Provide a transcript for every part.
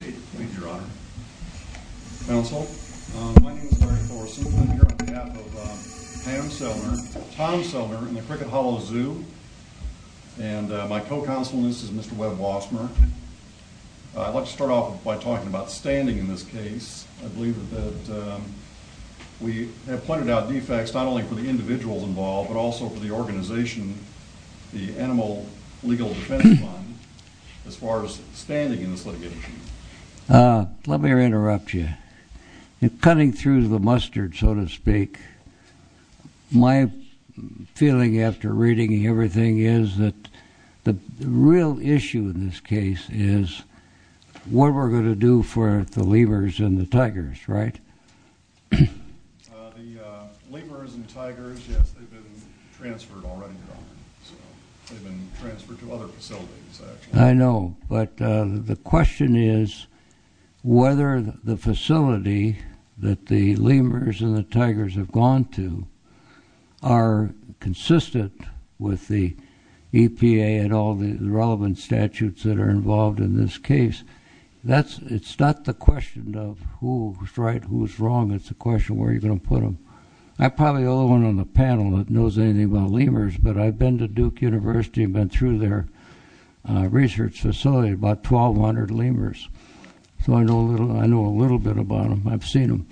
Thank you, Your Honor. Counsel, my name is Larry Forsythe. I'm here on behalf of Pam Sellner, Tom Sellner, and the Cricket Hollow Zoo, and my co-counsel is Mr. Webb Wassmer. I'd like to start off by talking about standing in this case. I believe that we have pointed out defects not only for the individuals involved but also for the organization, the Animal Legal Defense Fund, as far as standing in this litigation. Let me interrupt you. Cutting through the mustard, so to speak, my feeling after reading everything is that the real issue in this case is what we're going to do for the lemurs and the tigers, right? The lemurs and tigers, yes, they've been transferred already, Your Honor. They've been transferred to other facilities, actually. If I'm wrong, it's a question of where you're going to put them. I'm probably the only one on the panel that knows anything about lemurs, but I've been to Duke University and been through their research facility, about 1,200 lemurs, so I know a little bit about them. I've seen them.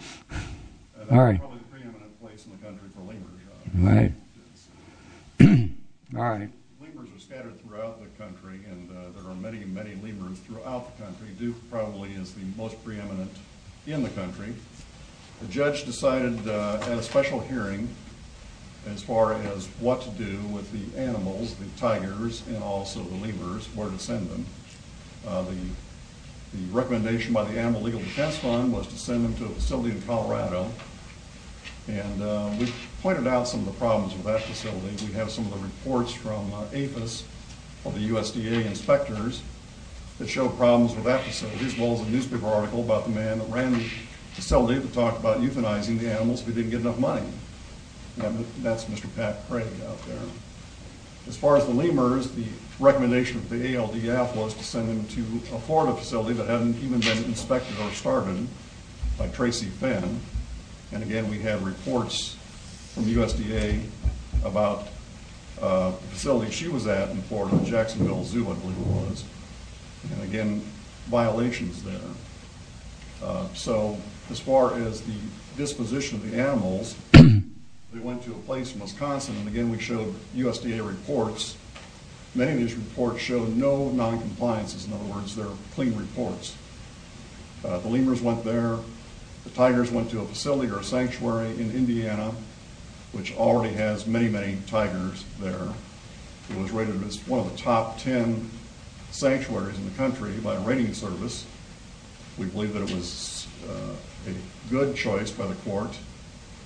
That's probably the preeminent place in the country for lemurs, Your Honor. Lemurs are scattered throughout the country, and there are many, many lemurs throughout the country. Duke probably is the most preeminent in the country. The judge decided at a special hearing as far as what to do with the animals, the tigers, and also the lemurs, where to send them. The recommendation by the Animal Legal Defense Fund was to send them to a facility in Colorado, and we've pointed out some of the problems with that facility. We have some of the reports from APHIS of the USDA inspectors that show problems with that facility, as well as a newspaper article about the man that ran the facility that talked about euthanizing the animals if he didn't get enough money. That's Mr. Pat Craig out there. As far as the lemurs, the recommendation of the ALDF was to send them to a Florida facility that hadn't even been inspected or started by Tracy Finn, and again, we have reports from USDA about the facility she was at in Florida, Jacksonville Zoo, I believe it was, and again, violations there. So, as far as the disposition of the animals, they went to a place in Wisconsin, and again, we showed USDA reports. Many of these reports show no noncompliances. In other words, they're clean reports. The lemurs went there, the tigers went to a facility or a sanctuary in Indiana, which already has many, many tigers there. It was rated as one of the top ten sanctuaries in the country by a rating service. We believe that it was a good choice by the court.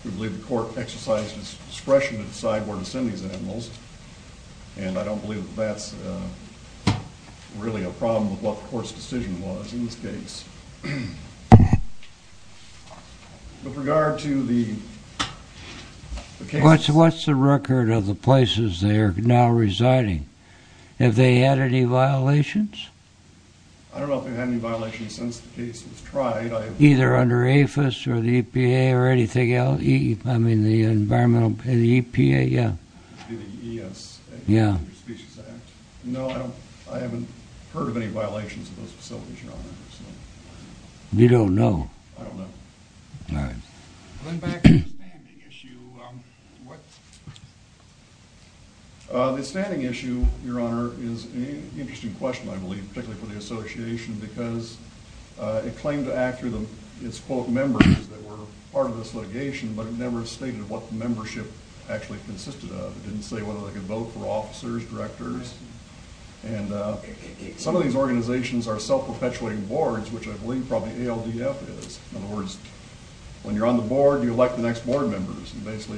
We believe the court exercised its discretion to decide where to send these animals, and I don't believe that that's really a problem with what the court's decision was in this case. With regard to the cases... What's the record of the places they are now residing? Have they had any violations? I don't know if they've had any violations since the case was tried. Either under APHIS or the EPA or anything else? I mean, the environmental... the EPA, yeah. Yeah. No, I haven't heard of any violations of those facilities, Your Honor. You don't know? All right. Going back to the standing issue, what... And basically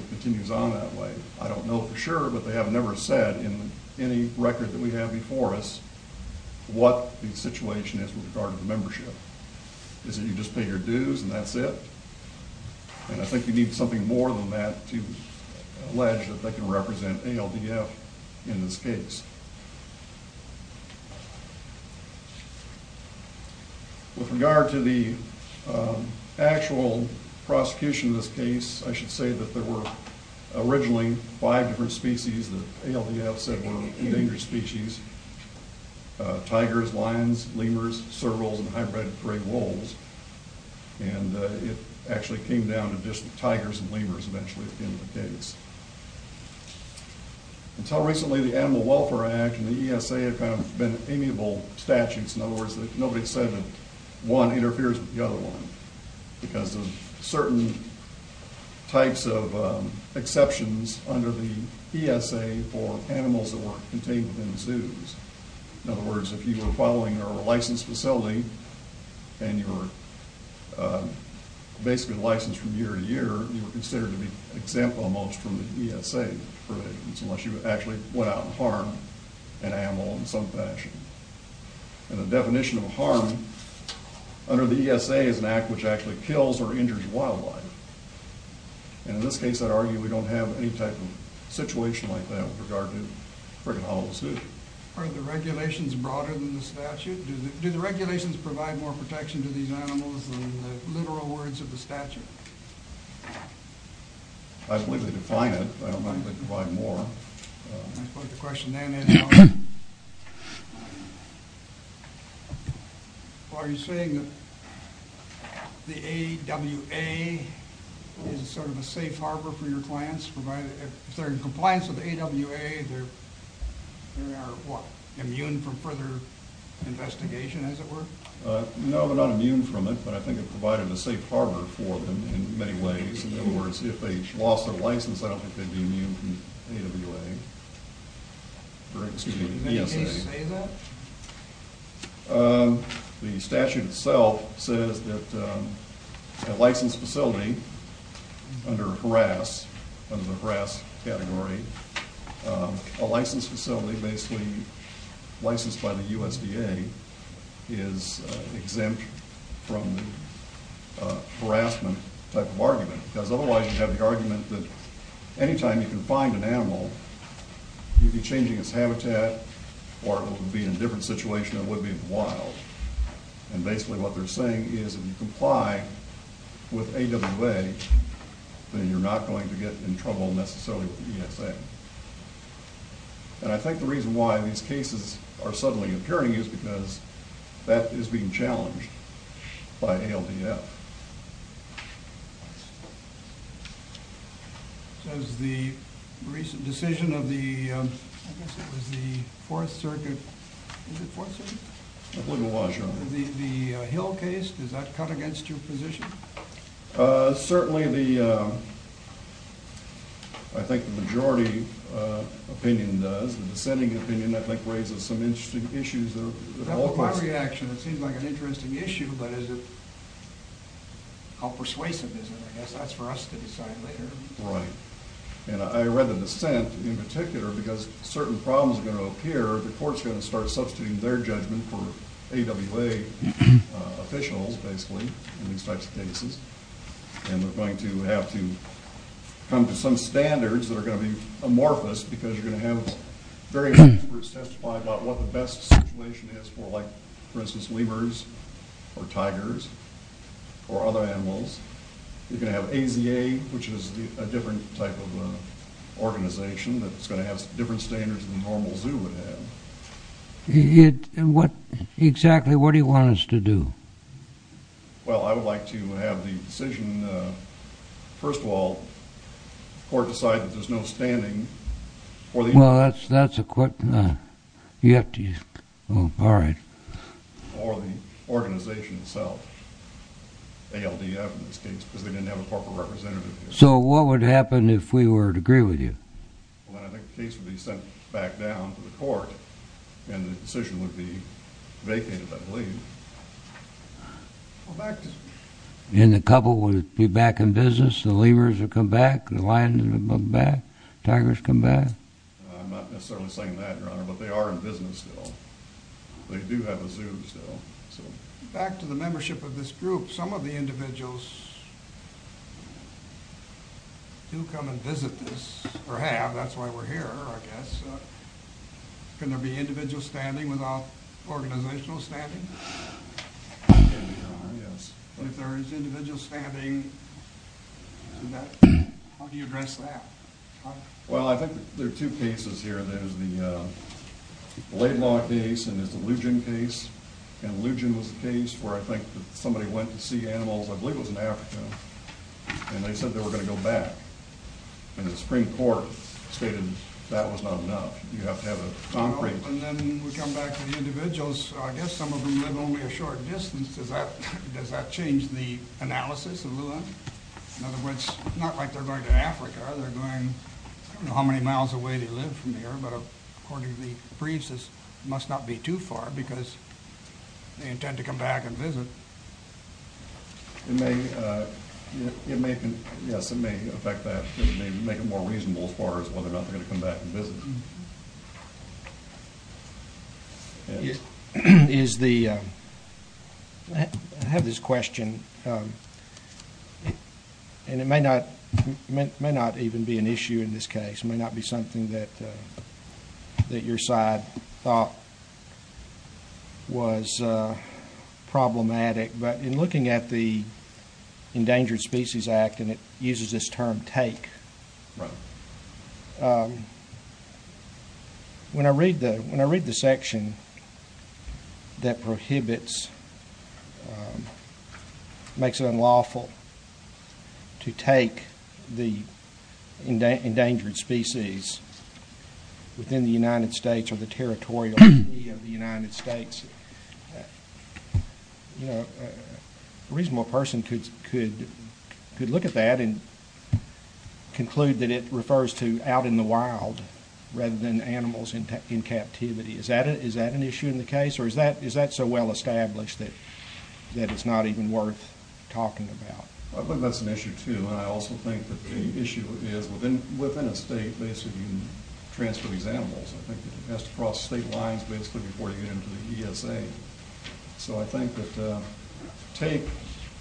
it continues on that way. I don't know for sure, but they have never said in any record that we have before us what the situation is with regard to the membership. Is it you just pay your dues and that's it? And I think you need something more than that to allege that they can represent ALDF in this case. With regard to the actual prosecution in this case, I should say that there were originally five different species that ALDF said were endangered species. Tigers, lions, lemurs, servals, and hybrid prey wolves. And it actually came down to just tigers and lemurs eventually at the end of the case. Until recently, the Animal Welfare Act and the ESA have kind of been amiable statutes. In other words, nobody said that one interferes with the other one because of certain types of exceptions under the ESA for animals that were contained within the zoos. In other words, if you were following a licensed facility and you were basically licensed from year to year, you were considered to be exempt almost from the ESA unless you actually went out and harmed an animal in some fashion. And the definition of harm under the ESA is an act which actually kills or injures wildlife. And in this case, I'd argue we don't have any type of situation like that with regard to Frigate Hollow Zoo. Are the regulations broader than the statute? Do the regulations provide more protection to these animals than the literal words of the statute? I believe they define it, but I don't think they provide more. I'll put the question then in. Are you saying that the AWA is sort of a safe harbor for your clients? If they're in compliance with the AWA, they are immune from further investigation, as it were? No, they're not immune from it, but I think it provided a safe harbor for them in many ways. In other words, if they lost their license, I don't think they'd be immune from ESA. Can you say that? The statute itself says that a licensed facility under the harass category, a licensed facility basically licensed by the USDA, is exempt from the harassment type of argument. Because otherwise you'd have the argument that any time you can find an animal, you'd be changing its habitat, or it would be in a different situation than it would be in the wild. And basically what they're saying is if you comply with AWA, then you're not going to get in trouble necessarily with ESA. And I think the reason why these cases are suddenly appearing is because that is being challenged by ALDF. So is the recent decision of the, I guess it was the Fourth Circuit, is it Fourth Circuit? I believe it was, yeah. The Hill case, does that cut against your position? Certainly the, I think the majority opinion does. The dissenting opinion I think raises some interesting issues. My reaction, it seems like an interesting issue, but is it, how persuasive is it? I guess that's for us to decide later. Right. And I read the dissent in particular because certain problems are going to appear, the court's going to start substituting their judgment for AWA officials, basically, in these types of cases. And we're going to have to come to some standards that are going to be amorphous because you're going to have various experts testify about what the best situation is for, like for instance lemurs or tigers or other animals. You're going to have AZA, which is a different type of organization that's going to have different standards than the normal zoo would have. And what, exactly what do you want us to do? Well, I would like to have the decision, first of all, the court decide that there's no standing for the- Well, that's a quick, you have to, all right. Or the organization itself, ALDF in this case, because they didn't have a corporate representative here. So what would happen if we were to agree with you? Well, then I think the case would be sent back down to the court and the decision would be vacated, I believe. Well, back to- And the couple would be back in business, the lemurs would come back, the lions would come back, tigers come back? I'm not necessarily saying that, Your Honor, but they are in business still. They do have a zoo still. Back to the membership of this group, some of the individuals do come and visit this, or have, that's why we're here, I guess. Can there be individual standing without organizational standing? Yes. If there is individual standing, how do you address that? Well, I think there are two cases here. There's the Laidlaw case and there's the Lugin case. And Lugin was the case where I think somebody went to see animals, I believe it was in Africa, and they said they were going to go back. And the Supreme Court stated that was not enough. You have to have a concrete- And then we come back to the individuals. I guess some of them live only a short distance. Does that change the analysis a little bit? In other words, it's not like they're going to Africa. They're going, I don't know how many miles away they live from here, but according to the briefs, this must not be too far because they intend to come back and visit. It may, yes, it may affect that. It may make it more reasonable as far as whether or not they're going to come back and visit. I have this question, and it may not even be an issue in this case. It may not be something that your side thought was problematic, but in looking at the Endangered Species Act, and it uses this term take, when I read the section that prohibits, makes it unlawful to take the endangered species within the United States or the territorial treaty of the United States, a reasonable person could look at that and conclude that it refers to out in the wild rather than animals in captivity. Is that an issue in the case, or is that so well established that it's not even worth talking about? I think that's an issue, too, and I also think that the issue is within a state, basically, you can transfer these animals. I think it has to cross state lines, basically, before you get into the ESA. So I think that take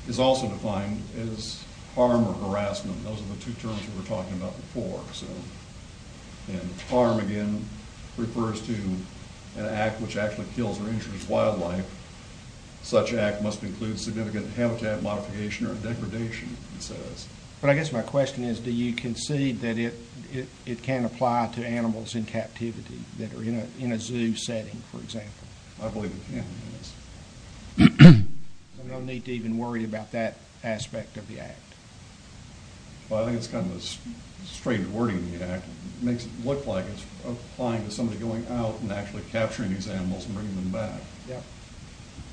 is also defined as harm or harassment. Those are the two terms we were talking about before. And harm, again, refers to an act which actually kills or injures wildlife. Such act must include significant habitat modification or degradation, it says. But I guess my question is, do you concede that it can apply to animals in captivity that are in a zoo setting, for example? I believe it can, yes. There's no need to even worry about that aspect of the act. Well, I think it's kind of a strange wording, the act. It makes it look like it's applying to somebody going out and actually capturing these animals and bringing them back.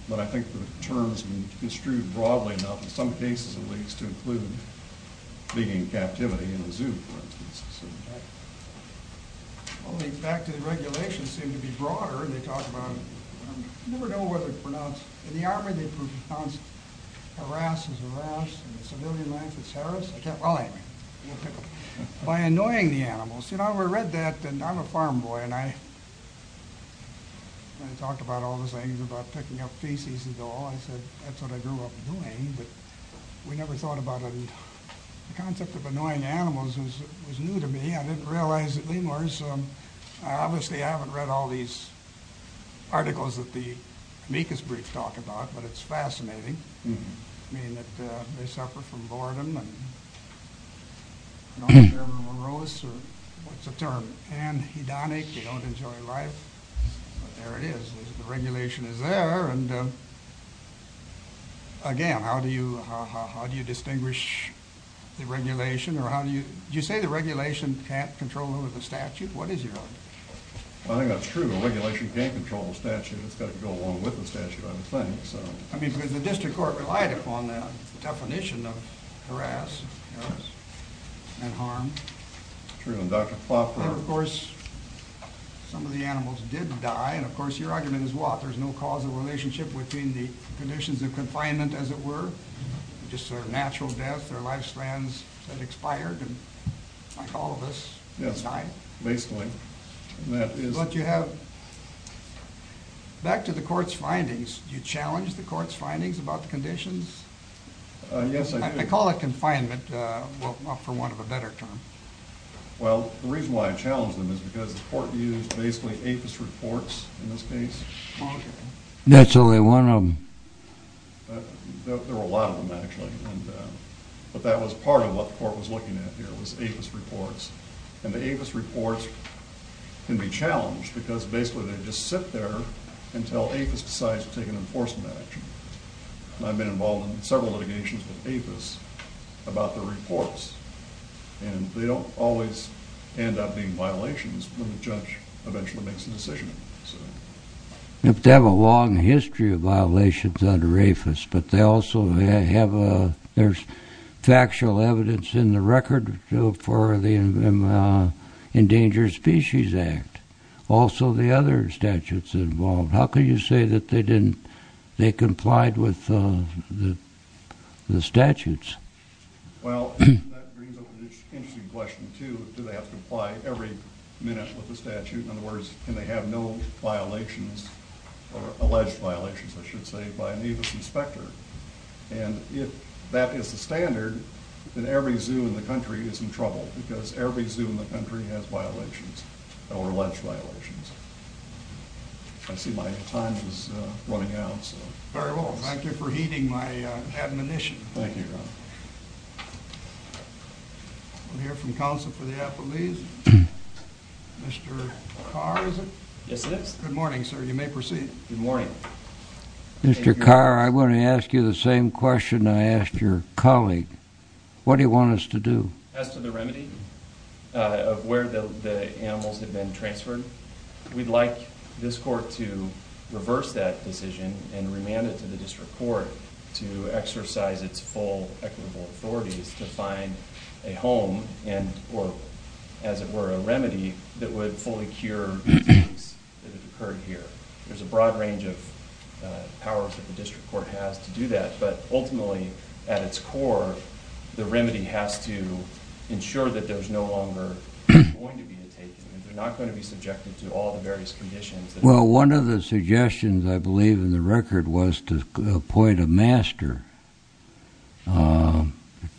But I think the terms can be construed broadly enough, in some cases at least, to include being in captivity in a zoo, for instance. Well, the regulations seem to be broader. They talk about, I never know what they pronounce. In the Army, they pronounce harass as harass. In civilian life, it's harass. Well, anyway, by annoying the animals. You know, I read that, and I'm a farm boy, and I talked about all the things about picking up feces and all. I said, that's what I grew up doing, but we never thought about it. The concept of annoying animals was new to me. I didn't realize that lemurs, obviously I haven't read all these articles that the amicus briefs talk about, but it's fascinating. I mean, they suffer from boredom, and they're morose, or what's the term, anhedonic, they don't enjoy life. But there it is, the regulation is there, and again, how do you distinguish the regulation? Did you say the regulation can't control the statute? What is your argument? I think that's true, the regulation can't control the statute, it's got to go along with the statute, I think. I mean, because the district court relied upon that definition of harass and harm. True, and Dr. Plopper... Of course, some of the animals did die, and of course, your argument is what? There's no causal relationship between the conditions of confinement, as it were, just sort of natural death, their lifespans that expired, and like all of us, died? Yes, basically. But you have, back to the court's findings, do you challenge the court's findings about the conditions? Yes, I do. I call it confinement, for want of a better term. Well, the reason why I challenge them is because the court used basically APHIS reports in this case. That's only one of them. There were a lot of them, actually. But that was part of what the court was looking at here, was APHIS reports. And the APHIS reports can be challenged, because basically they just sit there until APHIS decides to take an enforcement action. And I've been involved in several litigations with APHIS about their reports. And they don't always end up being violations when the judge eventually makes a decision. They have a long history of violations under APHIS, but they also have factual evidence in the record for the Endangered Species Act. Also the other statutes involved. How can you say that they complied with the statutes? Well, that brings up an interesting question, too. Do they have to comply every minute with the statute? In other words, can they have no violations, or alleged violations, I should say, by an APHIS inspector? And if that is the standard, then every zoo in the country is in trouble. Because every zoo in the country has violations, or alleged violations. I see my time is running out. Very well. Thank you for heeding my admonition. Thank you, Your Honor. We'll hear from counsel for the appellees. Mr. Carr, is it? Yes, it is. Good morning, sir. You may proceed. Good morning. Mr. Carr, I want to ask you the same question I asked your colleague. What do you want us to do? As to the remedy of where the animals have been transferred, we'd like this court to reverse that decision and remand it to the district court to exercise its full equitable authorities to find a home, or, as it were, a remedy that would fully cure the attacks that have occurred here. There's a broad range of powers that the district court has to do that, but ultimately, at its core, the remedy has to ensure that there's no longer going to be a taken. They're not going to be subjected to all the various conditions. Well, one of the suggestions, I believe, in the record was to appoint a master,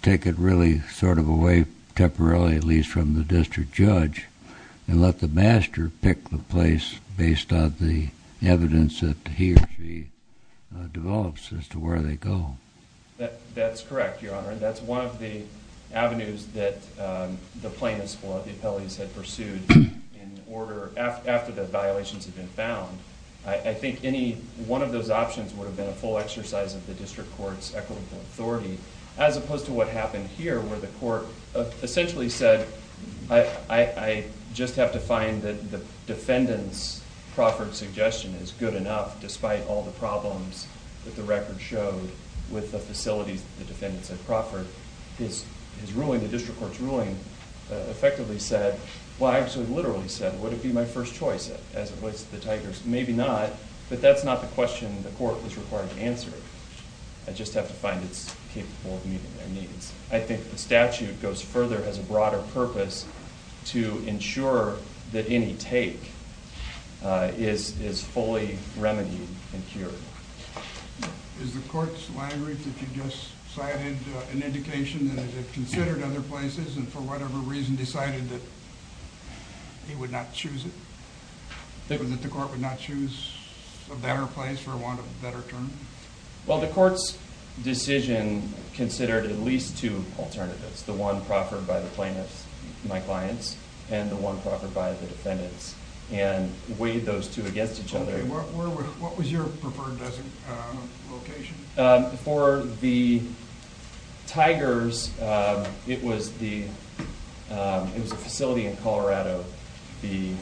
take it really sort of away temporarily, at least from the district judge, and let the master pick the place based on the evidence that he or she develops as to where they go. That's correct, Your Honor. That's one of the avenues that the plaintiffs or the appellees had pursued after the violations had been found. I think one of those options would have been a full exercise of the district court's equitable authority, as opposed to what happened here where the court essentially said, I just have to find that the defendant's proffered suggestion is good enough, despite all the problems that the record showed with the facilities that the defendant said proffered. His ruling, the district court's ruling, effectively said, well, I actually literally said, would it be my first choice as it relates to the Tigers? Maybe not, but that's not the question the court was required to answer. I just have to find it's capable of meeting their needs. I think the statute goes further as a broader purpose to ensure that any take is fully remedied and cured. Is the court's language that you just cited an indication that it had considered other places and for whatever reason decided that it would not choose it, or that the court would not choose a better place or want a better term? Well, the court's decision considered at least two alternatives, the one proffered by the plaintiffs, my clients, and the one proffered by the defendants, and weighed those two against each other. What was your preferred location? For the Tigers, it was a facility in Colorado. The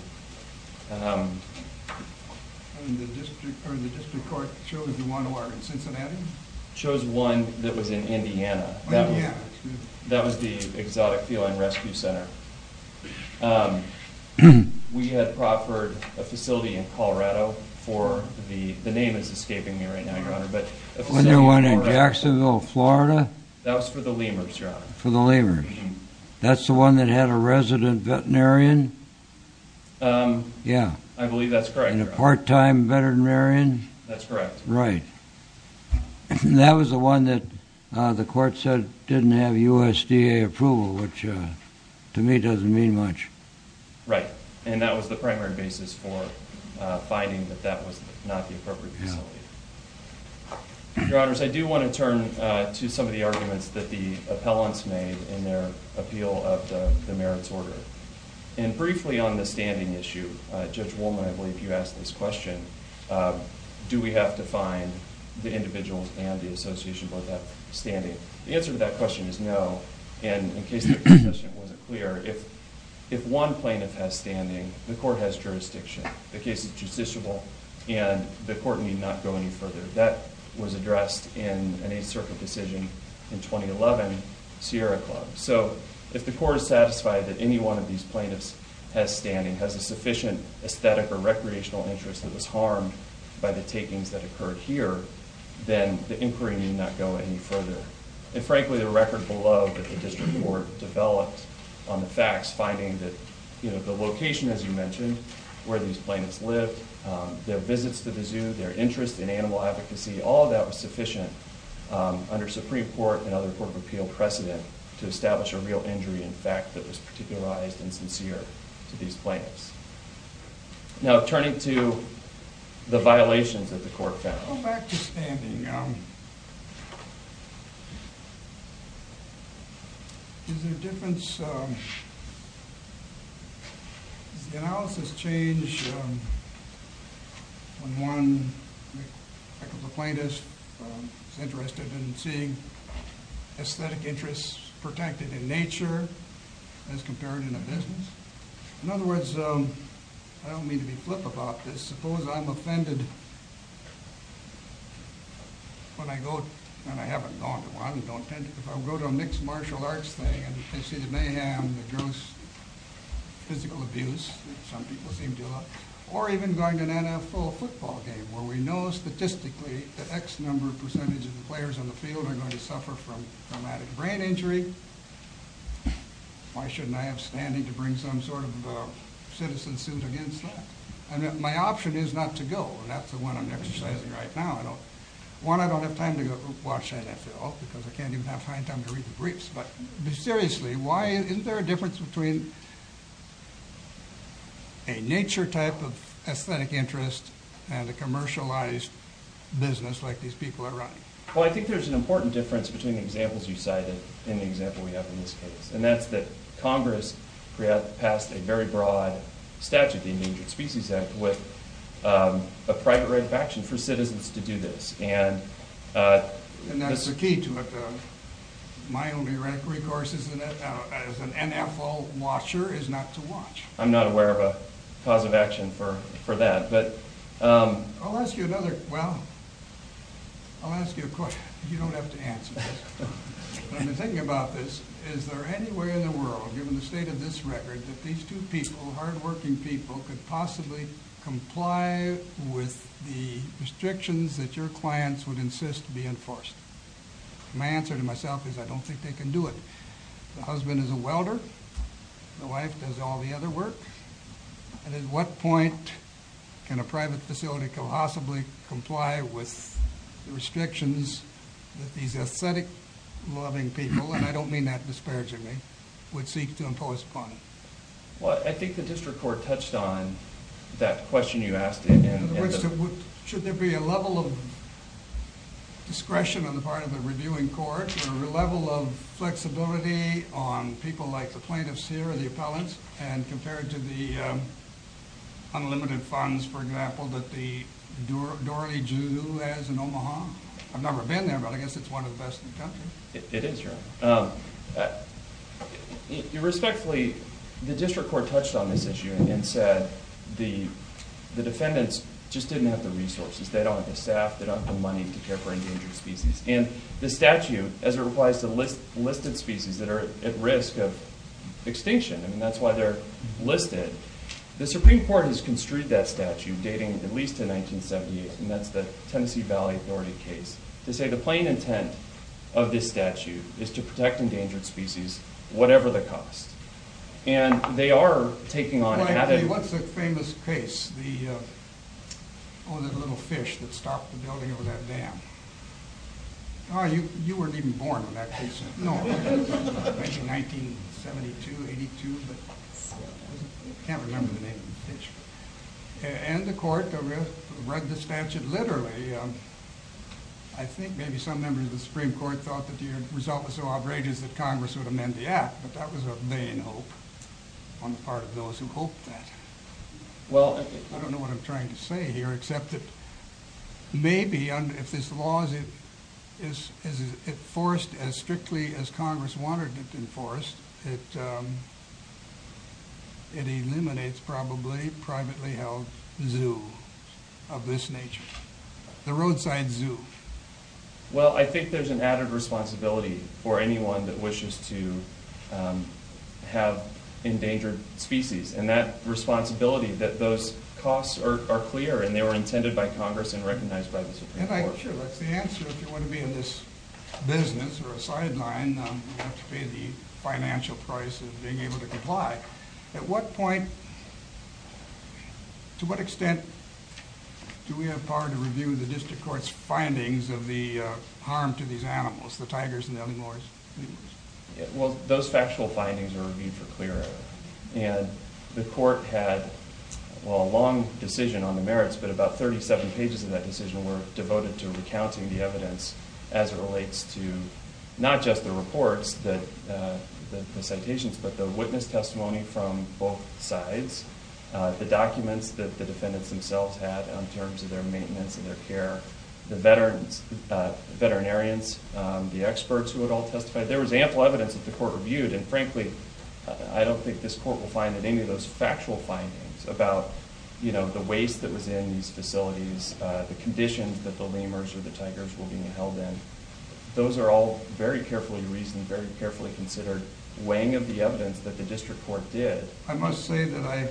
district court chose the one in Cincinnati? Chose one that was in Indiana. That was the Exotic Feline Rescue Center. We had proffered a facility in Colorado for the, the name is escaping me right now, Your Honor, but... The one in Jacksonville, Florida? That was for the lemurs, Your Honor. For the lemurs. That's the one that had a resident veterinarian? Yeah. I believe that's correct, Your Honor. And a part-time veterinarian? That's correct. Right. And that was the one that the court said didn't have USDA approval, which to me doesn't mean much. Right, and that was the primary basis for finding that that was not the appropriate facility. Your Honors, I do want to turn to some of the arguments that the appellants made in their appeal of the merits order. And briefly on the standing issue, Judge Woolman, I believe you asked this question, do we have to find the individuals and the association board that have standing? The answer to that question is no, and in case the question wasn't clear, if one plaintiff has standing, the court has jurisdiction. The case is justiciable, and the court need not go any further. That was addressed in an Eighth Circuit decision in 2011, Sierra Club. So if the court is satisfied that any one of these plaintiffs has standing, has a sufficient aesthetic or recreational interest that was harmed by the takings that occurred here, then the inquiry need not go any further. And frankly, the record below that the district court developed on the facts, finding that the location, as you mentioned, where these plaintiffs lived, their visits to the zoo, their interest in animal advocacy, all of that was sufficient under Supreme Court and other court of appeal precedent to establish a real injury in fact that was particularized and sincere to these plaintiffs. Now turning to the violations that the court found. So back to standing. Is there a difference? Does the analysis change when one plaintiff is interested in seeing aesthetic interests protected in nature as compared in a business? In other words, I don't mean to be flip about this. I suppose I'm offended when I go, and I haven't gone to one, if I go to a mixed martial arts thing and I see the mayhem, the gross physical abuse that some people seem to love, or even going to an NFL football game where we know statistically that X number of percentage of the players on the field are going to suffer from traumatic brain injury, why shouldn't I have standing to bring some sort of citizen suit against that? My option is not to go, and that's the one I'm exercising right now. One, I don't have time to go watch NFL because I can't even have time to read the briefs. But seriously, isn't there a difference between a nature type of aesthetic interest and a commercialized business like these people are running? Well I think there's an important difference between the examples you cited and the example we have in this case. And that's that Congress passed a very broad statute, the Endangered Species Act, with a private right of action for citizens to do this. And that's the key to it. My only recourse as an NFL watcher is not to watch. I'm not aware of a cause of action for that. I'll ask you another, well, I'll ask you a question. You don't have to answer this. I've been thinking about this. Is there any way in the world, given the state of this record, that these two people, hardworking people, could possibly comply with the restrictions that your clients would insist be enforced? My answer to myself is I don't think they can do it. The husband is a welder. The wife does all the other work. And at what point can a private facility possibly comply with the restrictions that these aesthetic loving people, and I don't mean that disparagingly, would seek to impose upon them? Well I think the district court touched on that question you asked. In other words, should there be a level of discretion on the part of the reviewing court, or a level of flexibility on people like the plaintiffs here or the appellants, and compared to the unlimited funds, for example, that the Doorly Jew has in Omaha? I've never been there, but I guess it's one of the best in the country. It is, your honor. Irrespectfully, the district court touched on this issue and said the defendants just didn't have the resources. They don't have the staff. They don't have the money to care for endangered species. And the statute, as it applies to listed species that are at risk of extinction, and that's why they're listed, the Supreme Court has construed that statute, dating at least to 1978, and that's the Tennessee Valley Authority case, to say the plain intent of this statute is to protect endangered species, whatever the cost. And they are taking on added... Oh, you weren't even born when that case, no. Maybe 1972, 82, but I can't remember the name of the case. And the court read the statute literally. I think maybe some members of the Supreme Court thought that the result was so outrageous that Congress would amend the act, but that was a vain hope on the part of those who hoped that. I don't know what I'm trying to say here, except that maybe if this law is enforced as strictly as Congress wanted it enforced, it eliminates probably privately held zoos of this nature. The roadside zoo. Well, I think there's an added responsibility for anyone that wishes to have endangered species, and that responsibility, that those costs are clear, and they were intended by Congress and recognized by the Supreme Court. Sure, that's the answer, if you want to be in this business or a sideline, you have to pay the financial price of being able to comply. At what point, to what extent, do we have power to review the district court's findings of the harm to these animals, the tigers and the other animals? Well, those factual findings were reviewed for clear error. And the court had a long decision on the merits, but about 37 pages of that decision were devoted to recounting the evidence as it relates to not just the reports, the citations, but the witness testimony from both sides, the documents that the defendants themselves had in terms of their maintenance and their care, the veterinarians, the experts who had all testified. There was ample evidence that the court reviewed, and frankly, I don't think this court will find that any of those factual findings about the waste that was in these facilities, the conditions that the lemurs or the tigers were being held in, those are all very carefully reasoned, very carefully considered, weighing of the evidence that the district court did. I must say that I,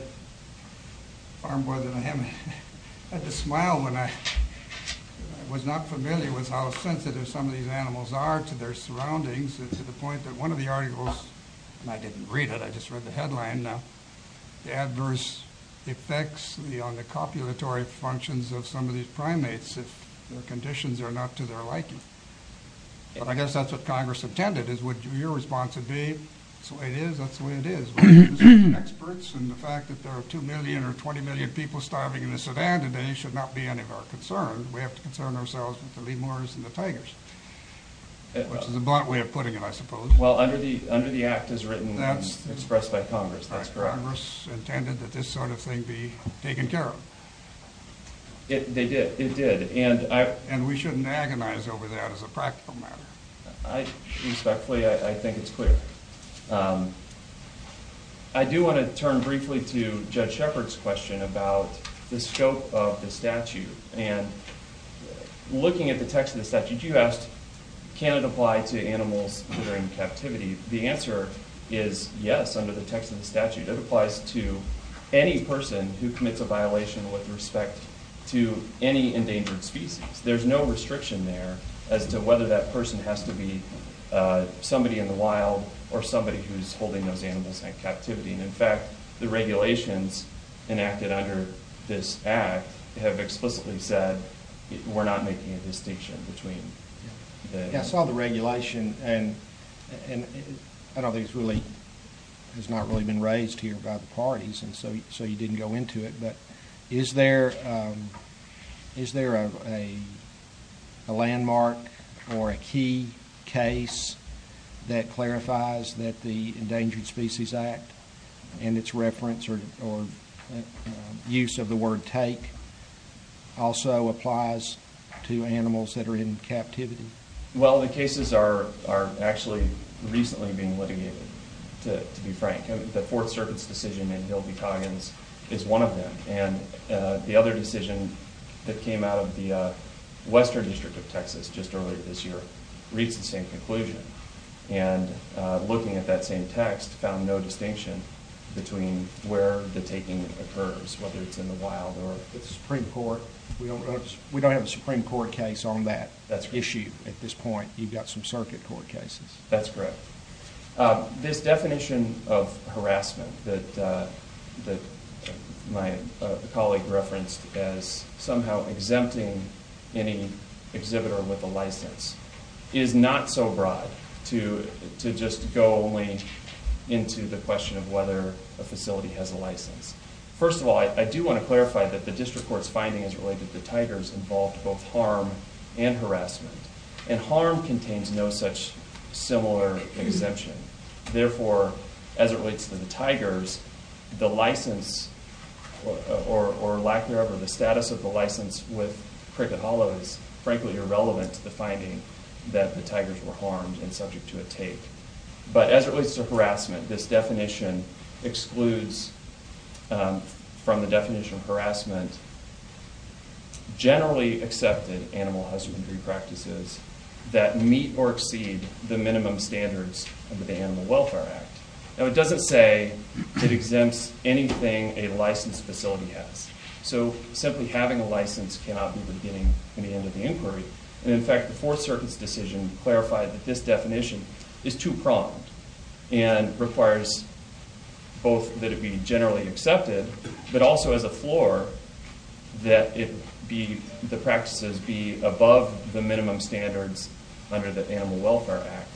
far more than I have, had to smile when I was not familiar with how sensitive some of these animals are to their surroundings to the point that one of the articles, and I didn't read it, I just read the headline, the adverse effects on the copulatory functions of some of these primates if their conditions are not to their liking. But I guess that's what Congress intended, is would your response be, that's the way it is, that's the way it is. The experts and the fact that there are 2 million or 20 million people starving in a sedan today should not be any of our concern. We have to concern ourselves with the lemurs and the tigers, which is a blunt way of putting it, I suppose. Well, under the act as written and expressed by Congress, that's correct. Congress intended that this sort of thing be taken care of. It did, it did. And we shouldn't agonize over that as a practical matter. Respectfully, I think it's clear. I do want to turn briefly to Judge Shepard's question about the scope of the statute. And looking at the text of the statute, you asked, can it apply to animals during captivity? The answer is yes, under the text of the statute. It applies to any person who commits a violation with respect to any endangered species. There's no restriction there as to whether that person has to be somebody in the wild or somebody who's holding those animals in captivity. And, in fact, the regulations enacted under this act have explicitly said we're not making a distinction between the animals. I saw the regulation, and I don't think it's really, it's not really been raised here by the parties, and so you didn't go into it. But is there a landmark or a key case that clarifies that the Endangered Species Act and its reference or use of the word take also applies to animals that are in captivity? Well, the cases are actually recently being litigated, to be frank. The Fourth Circuit's decision in Hill v. Coggins is one of them. And the other decision that came out of the Western District of Texas just earlier this year reads the same conclusion. And looking at that same text, found no distinction between where the taking occurs, whether it's in the wild or the Supreme Court. We don't have a Supreme Court case on that issue at this point. You've got some Circuit Court cases. That's correct. This definition of harassment that my colleague referenced as somehow exempting any exhibitor with a license is not so broad to just go only into the question of whether a facility has a license. First of all, I do want to clarify that the District Court's finding as related to tigers involved both harm and harassment. And harm contains no such similar exemption. Therefore, as it relates to the tigers, the license or lack thereof or the status of the license with cricket hollows is frankly irrelevant to the finding that the tigers were harmed and subject to a take. But as it relates to harassment, this definition excludes from the definition of harassment generally accepted animal husbandry practices that meet or exceed the minimum standards under the Animal Welfare Act. Now, it doesn't say it exempts anything a licensed facility has. So simply having a license cannot be the beginning and the end of the inquiry. In fact, the Fourth Circuit's decision clarified that this definition is too pronged and requires both that it be generally accepted but also as a floor that the practices be above the minimum standards under the Animal Welfare Act.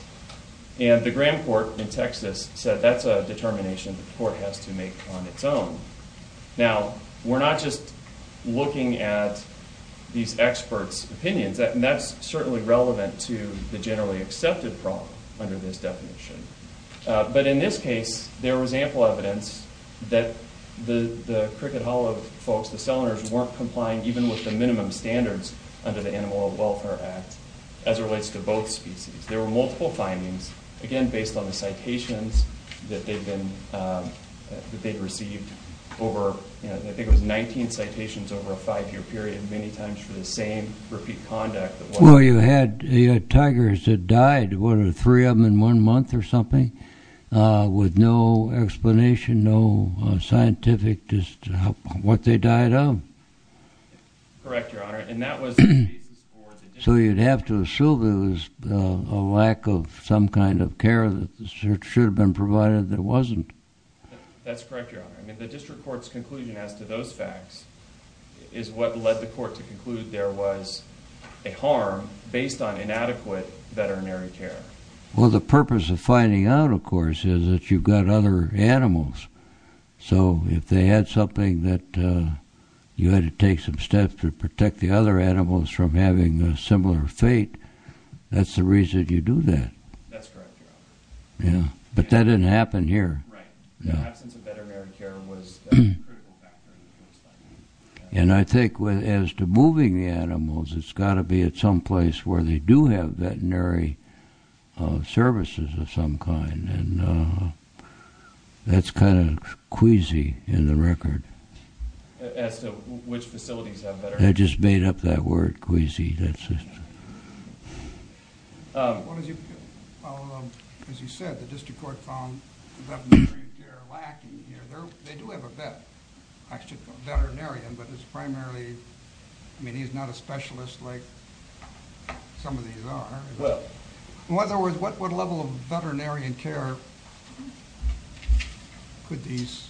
And the Grand Court in Texas said that's a determination the court has to make on its own. Now, we're not just looking at these experts' opinions. And that's certainly relevant to the generally accepted problem under this definition. But in this case, there was ample evidence that the cricket hollow folks, the sellers, weren't complying even with the minimum standards under the Animal Welfare Act as it relates to both species. There were multiple findings, again, based on the citations that they've been – that they've received over – I think it was 19 citations over a five-year period, many times for the same repeat conduct. Well, you had tigers that died. What, three of them in one month or something with no explanation, no scientific – just what they died of? Correct, Your Honor. So you'd have to assume there was a lack of some kind of care that should have been provided that wasn't. That's correct, Your Honor. I mean, the district court's conclusion as to those facts is what led the court to conclude there was a harm based on inadequate veterinary care. Well, the purpose of finding out, of course, is that you've got other animals. So if they had something that you had to take some steps to protect the other animals from having a similar fate, that's the reason you do that. That's correct, Your Honor. Yeah, but that didn't happen here. Right. The absence of veterinary care was a critical factor in the first place. And I think as to moving the animals, it's got to be at some place where they do have veterinary services of some kind. And that's kind of queasy in the record. As to which facilities have better? Well, as you said, the district court found veterinary care lacking here. They do have a vet, veterinarian, but it's primarily, I mean, he's not a specialist like some of these are. In other words, what level of veterinarian care could these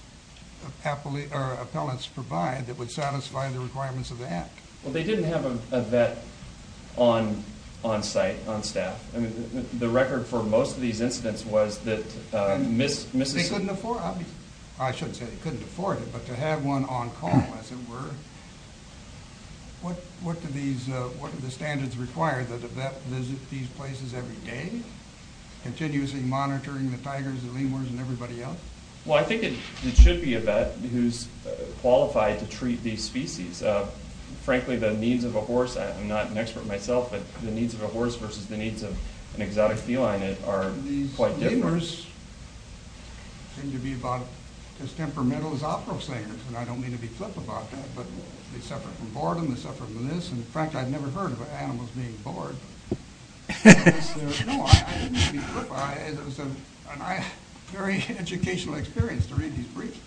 appellants provide that would satisfy the requirements of the Act? Well, they didn't have a vet on site, on staff. I mean, the record for most of these incidents was that Mrs. He couldn't afford, I shouldn't say he couldn't afford it, but to have one on call, as it were. What do the standards require, that a vet visit these places every day, continuously monitoring the tigers, the lemurs, and everybody else? Well, I think it should be a vet who's qualified to treat these species. Frankly, the needs of a horse, I'm not an expert myself, but the needs of a horse versus the needs of an exotic feline are quite different. These lemurs tend to be about as temperamental as opera singers. And I don't mean to be flip about that, but they suffer from boredom, they suffer from this. In fact, I've never heard of animals being bored. No, I didn't mean to be flip. It was a very educational experience to read these briefs.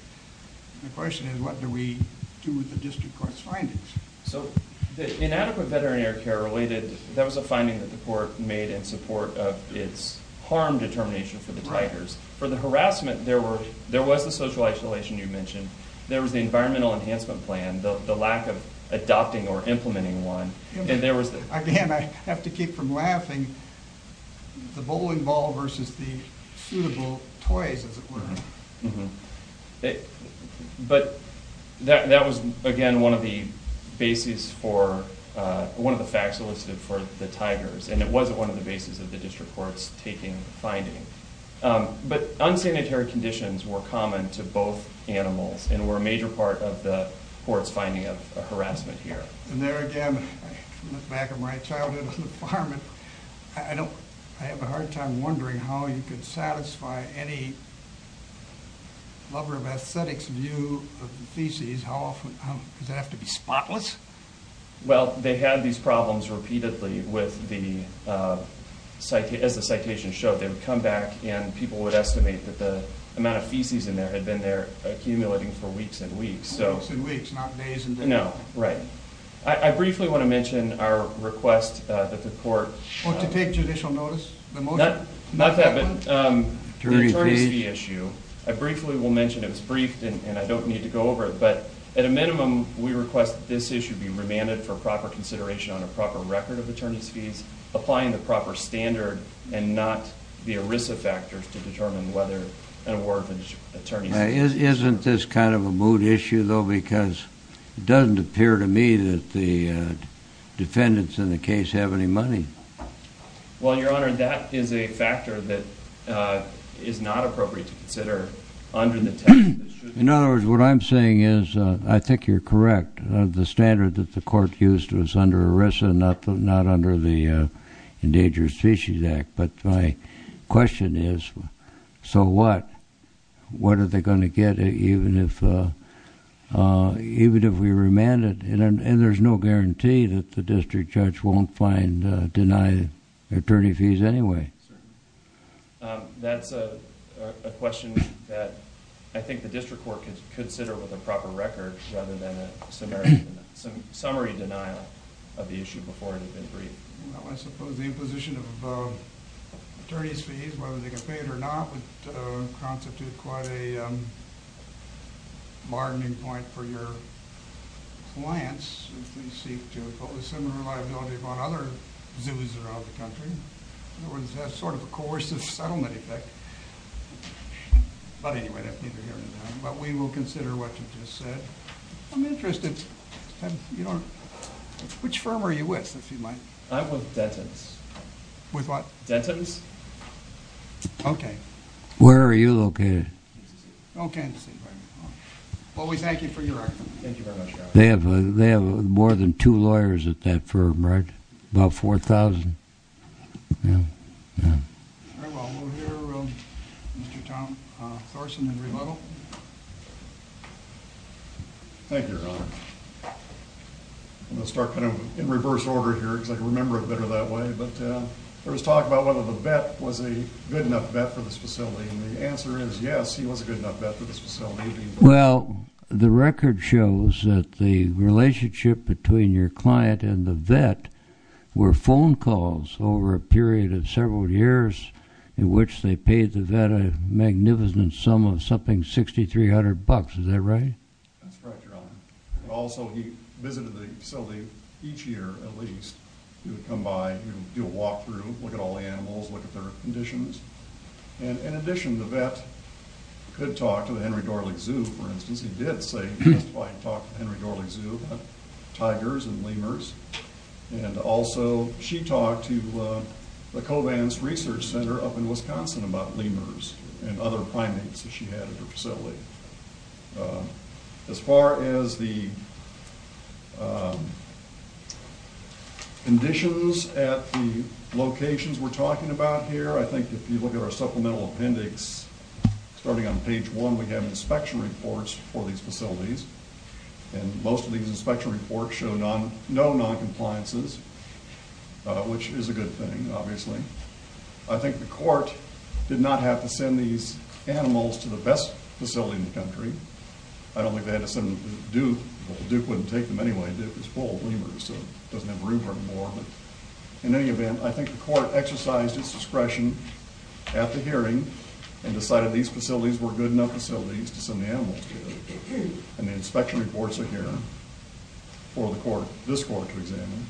My question is, what do we do with the district court's findings? So, inadequate veterinary care related, that was a finding that the court made in support of its harm determination for the tigers. For the harassment, there was the social isolation you mentioned. There was the environmental enhancement plan, the lack of adopting or implementing one. Again, I have to keep from laughing, the bowling ball versus the suitable toys, as it were. But, that was, again, one of the bases for, one of the facts elicited for the tigers. And it wasn't one of the bases of the district court's taking finding. But, unsanitary conditions were common to both animals, and were a major part of the court's finding of harassment here. And there again, I look back at my childhood on the farm, and I have a hard time wondering how you could satisfy any lover of aesthetics view of the feces. How often, does it have to be spotless? Well, they had these problems repeatedly with the, as the citation showed, they would come back and people would estimate that the amount of feces in there had been there accumulating for weeks and weeks. Weeks and weeks, not days and days. No, right. I briefly want to mention our request that the court... To take judicial notice of the motion? Not that, but the attorney's fee issue. I briefly will mention it was briefed and I don't need to go over it. But, at a minimum, we request that this issue be remanded for proper consideration on a proper record of attorney's fees, applying the proper standard and not the ERISA factors to determine whether an award of attorney's fees... Isn't this kind of a moot issue, though, because it doesn't appear to me that the defendants in the case have any money. Well, Your Honor, that is a factor that is not appropriate to consider under the... In other words, what I'm saying is, I think you're correct, the standard that the court used was under ERISA, not under the Endangered Species Act. But my question is, so what? What are they going to get even if we remand it? And there's no guarantee that the district judge won't find, deny attorney fees anyway. Certainly. That's a question that I think the district court could consider with a proper record, rather than a summary denial of the issue before it had been briefed. Well, I suppose the imposition of attorney's fees, whether they get paid or not, would constitute quite a bargaining point for your clients, if they seek to impose similar liability upon other zoos around the country. In other words, that's sort of a coercive settlement effect. But anyway, that's neither here nor there. But we will consider what you just said. I'm interested. Which firm are you with, if you might? I'm with Dentons. With what? Dentons. Okay. Where are you located? Kansas City. Oh, Kansas City, right. Well, we thank you for your effort. Thank you very much, Your Honor. They have more than two lawyers at that firm, right? About 4,000? Yeah. All right. Well, we'll hear Mr. Tom Thorson in rebuttal. Thank you, Your Honor. I'm going to start kind of in reverse order here, because I can remember it better that way. But there was talk about whether the vet was a good enough vet for this facility. And the answer is, yes, he was a good enough vet for this facility. Well, the record shows that the relationship between your client and the vet were phone calls over a period of several years in which they paid the vet a magnificent sum of something $6,300. Is that right? That's correct, Your Honor. And also, he visited the facility each year at least. He would come by. He would do a walk-through, look at all the animals, look at their conditions. And in addition, the vet could talk to the Henry Dorling Zoo, for instance. He did testify and talk to the Henry Dorling Zoo about tigers and lemurs. And also, she talked to the Covance Research Center up in Wisconsin about lemurs and other primates that she had at her facility. As far as the conditions at the locations we're talking about here, I think if you look at our supplemental appendix, starting on page one, we have inspection reports for these facilities. And most of these inspection reports show no noncompliances, which is a good thing, obviously. I think the court did not have to send these animals to the best facility in the country. I don't think they had to send them to Duke. Duke wouldn't take them anyway. Duke is full of lemurs, so it doesn't have room for them anymore. In any event, I think the court exercised its discretion at the hearing and decided these facilities were good enough facilities to send the animals to. And the inspection reports are here for this court to examine.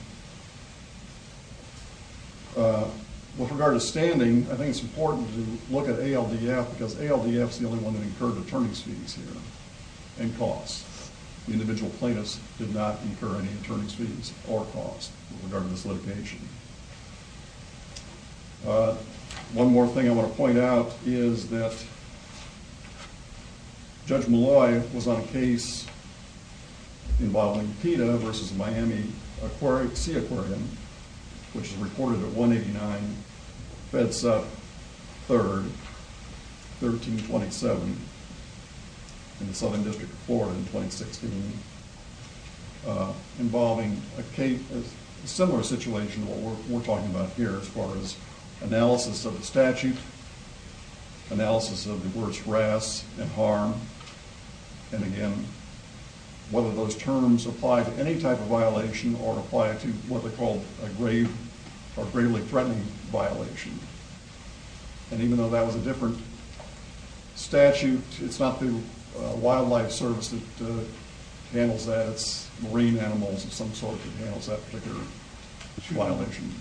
With regard to standing, I think it's important to look at ALDF, because ALDF is the only one that incurred attorney's fees here and costs. The individual plaintiffs did not incur any attorney's fees or costs with regard to this litigation. One more thing I want to point out is that Judge Malloy was on a case involving PETA versus Miami Sea Aquarium, which is reported at 189 Fedsup 3rd, 1327 in the Southern District of Florida in 2016, involving a similar situation to what we're talking about here as far as analysis of the statute, analysis of the worst wrasse and harm, and again, whether those terms apply to any type of violation or apply to what they call a grave or gravely threatening violation. And even though that was a different statute, it's not the Wildlife Service that handles that. It's marine animals of some sort that handles that particular violation.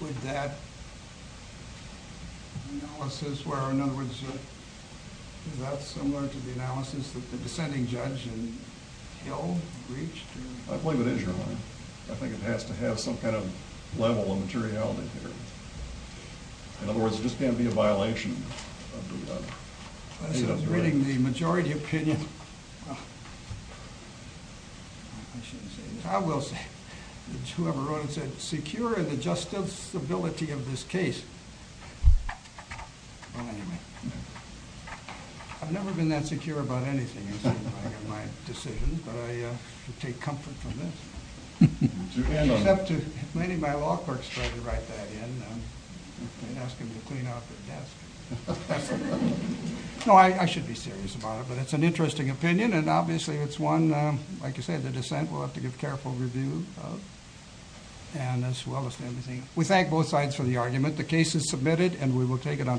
Would that analysis where, in other words, is that similar to the analysis that the dissenting judge in Hill reached? I believe it is, Your Honor. I think it has to have some kind of level of materiality here. In other words, it just can't be a violation. I was reading the majority opinion. I will say, whoever wrote it said, secure the justicability of this case. I've never been that secure about anything in my decisions, but I take comfort from this. Maybe my law clerk's going to write that in and ask him to clean out the desk. No, I should be serious about it, but it's an interesting opinion, and obviously it's one, like you said, the dissent will have to give careful review of, and as well as everything. We thank both sides for the argument. The case is submitted, and we will take it on record.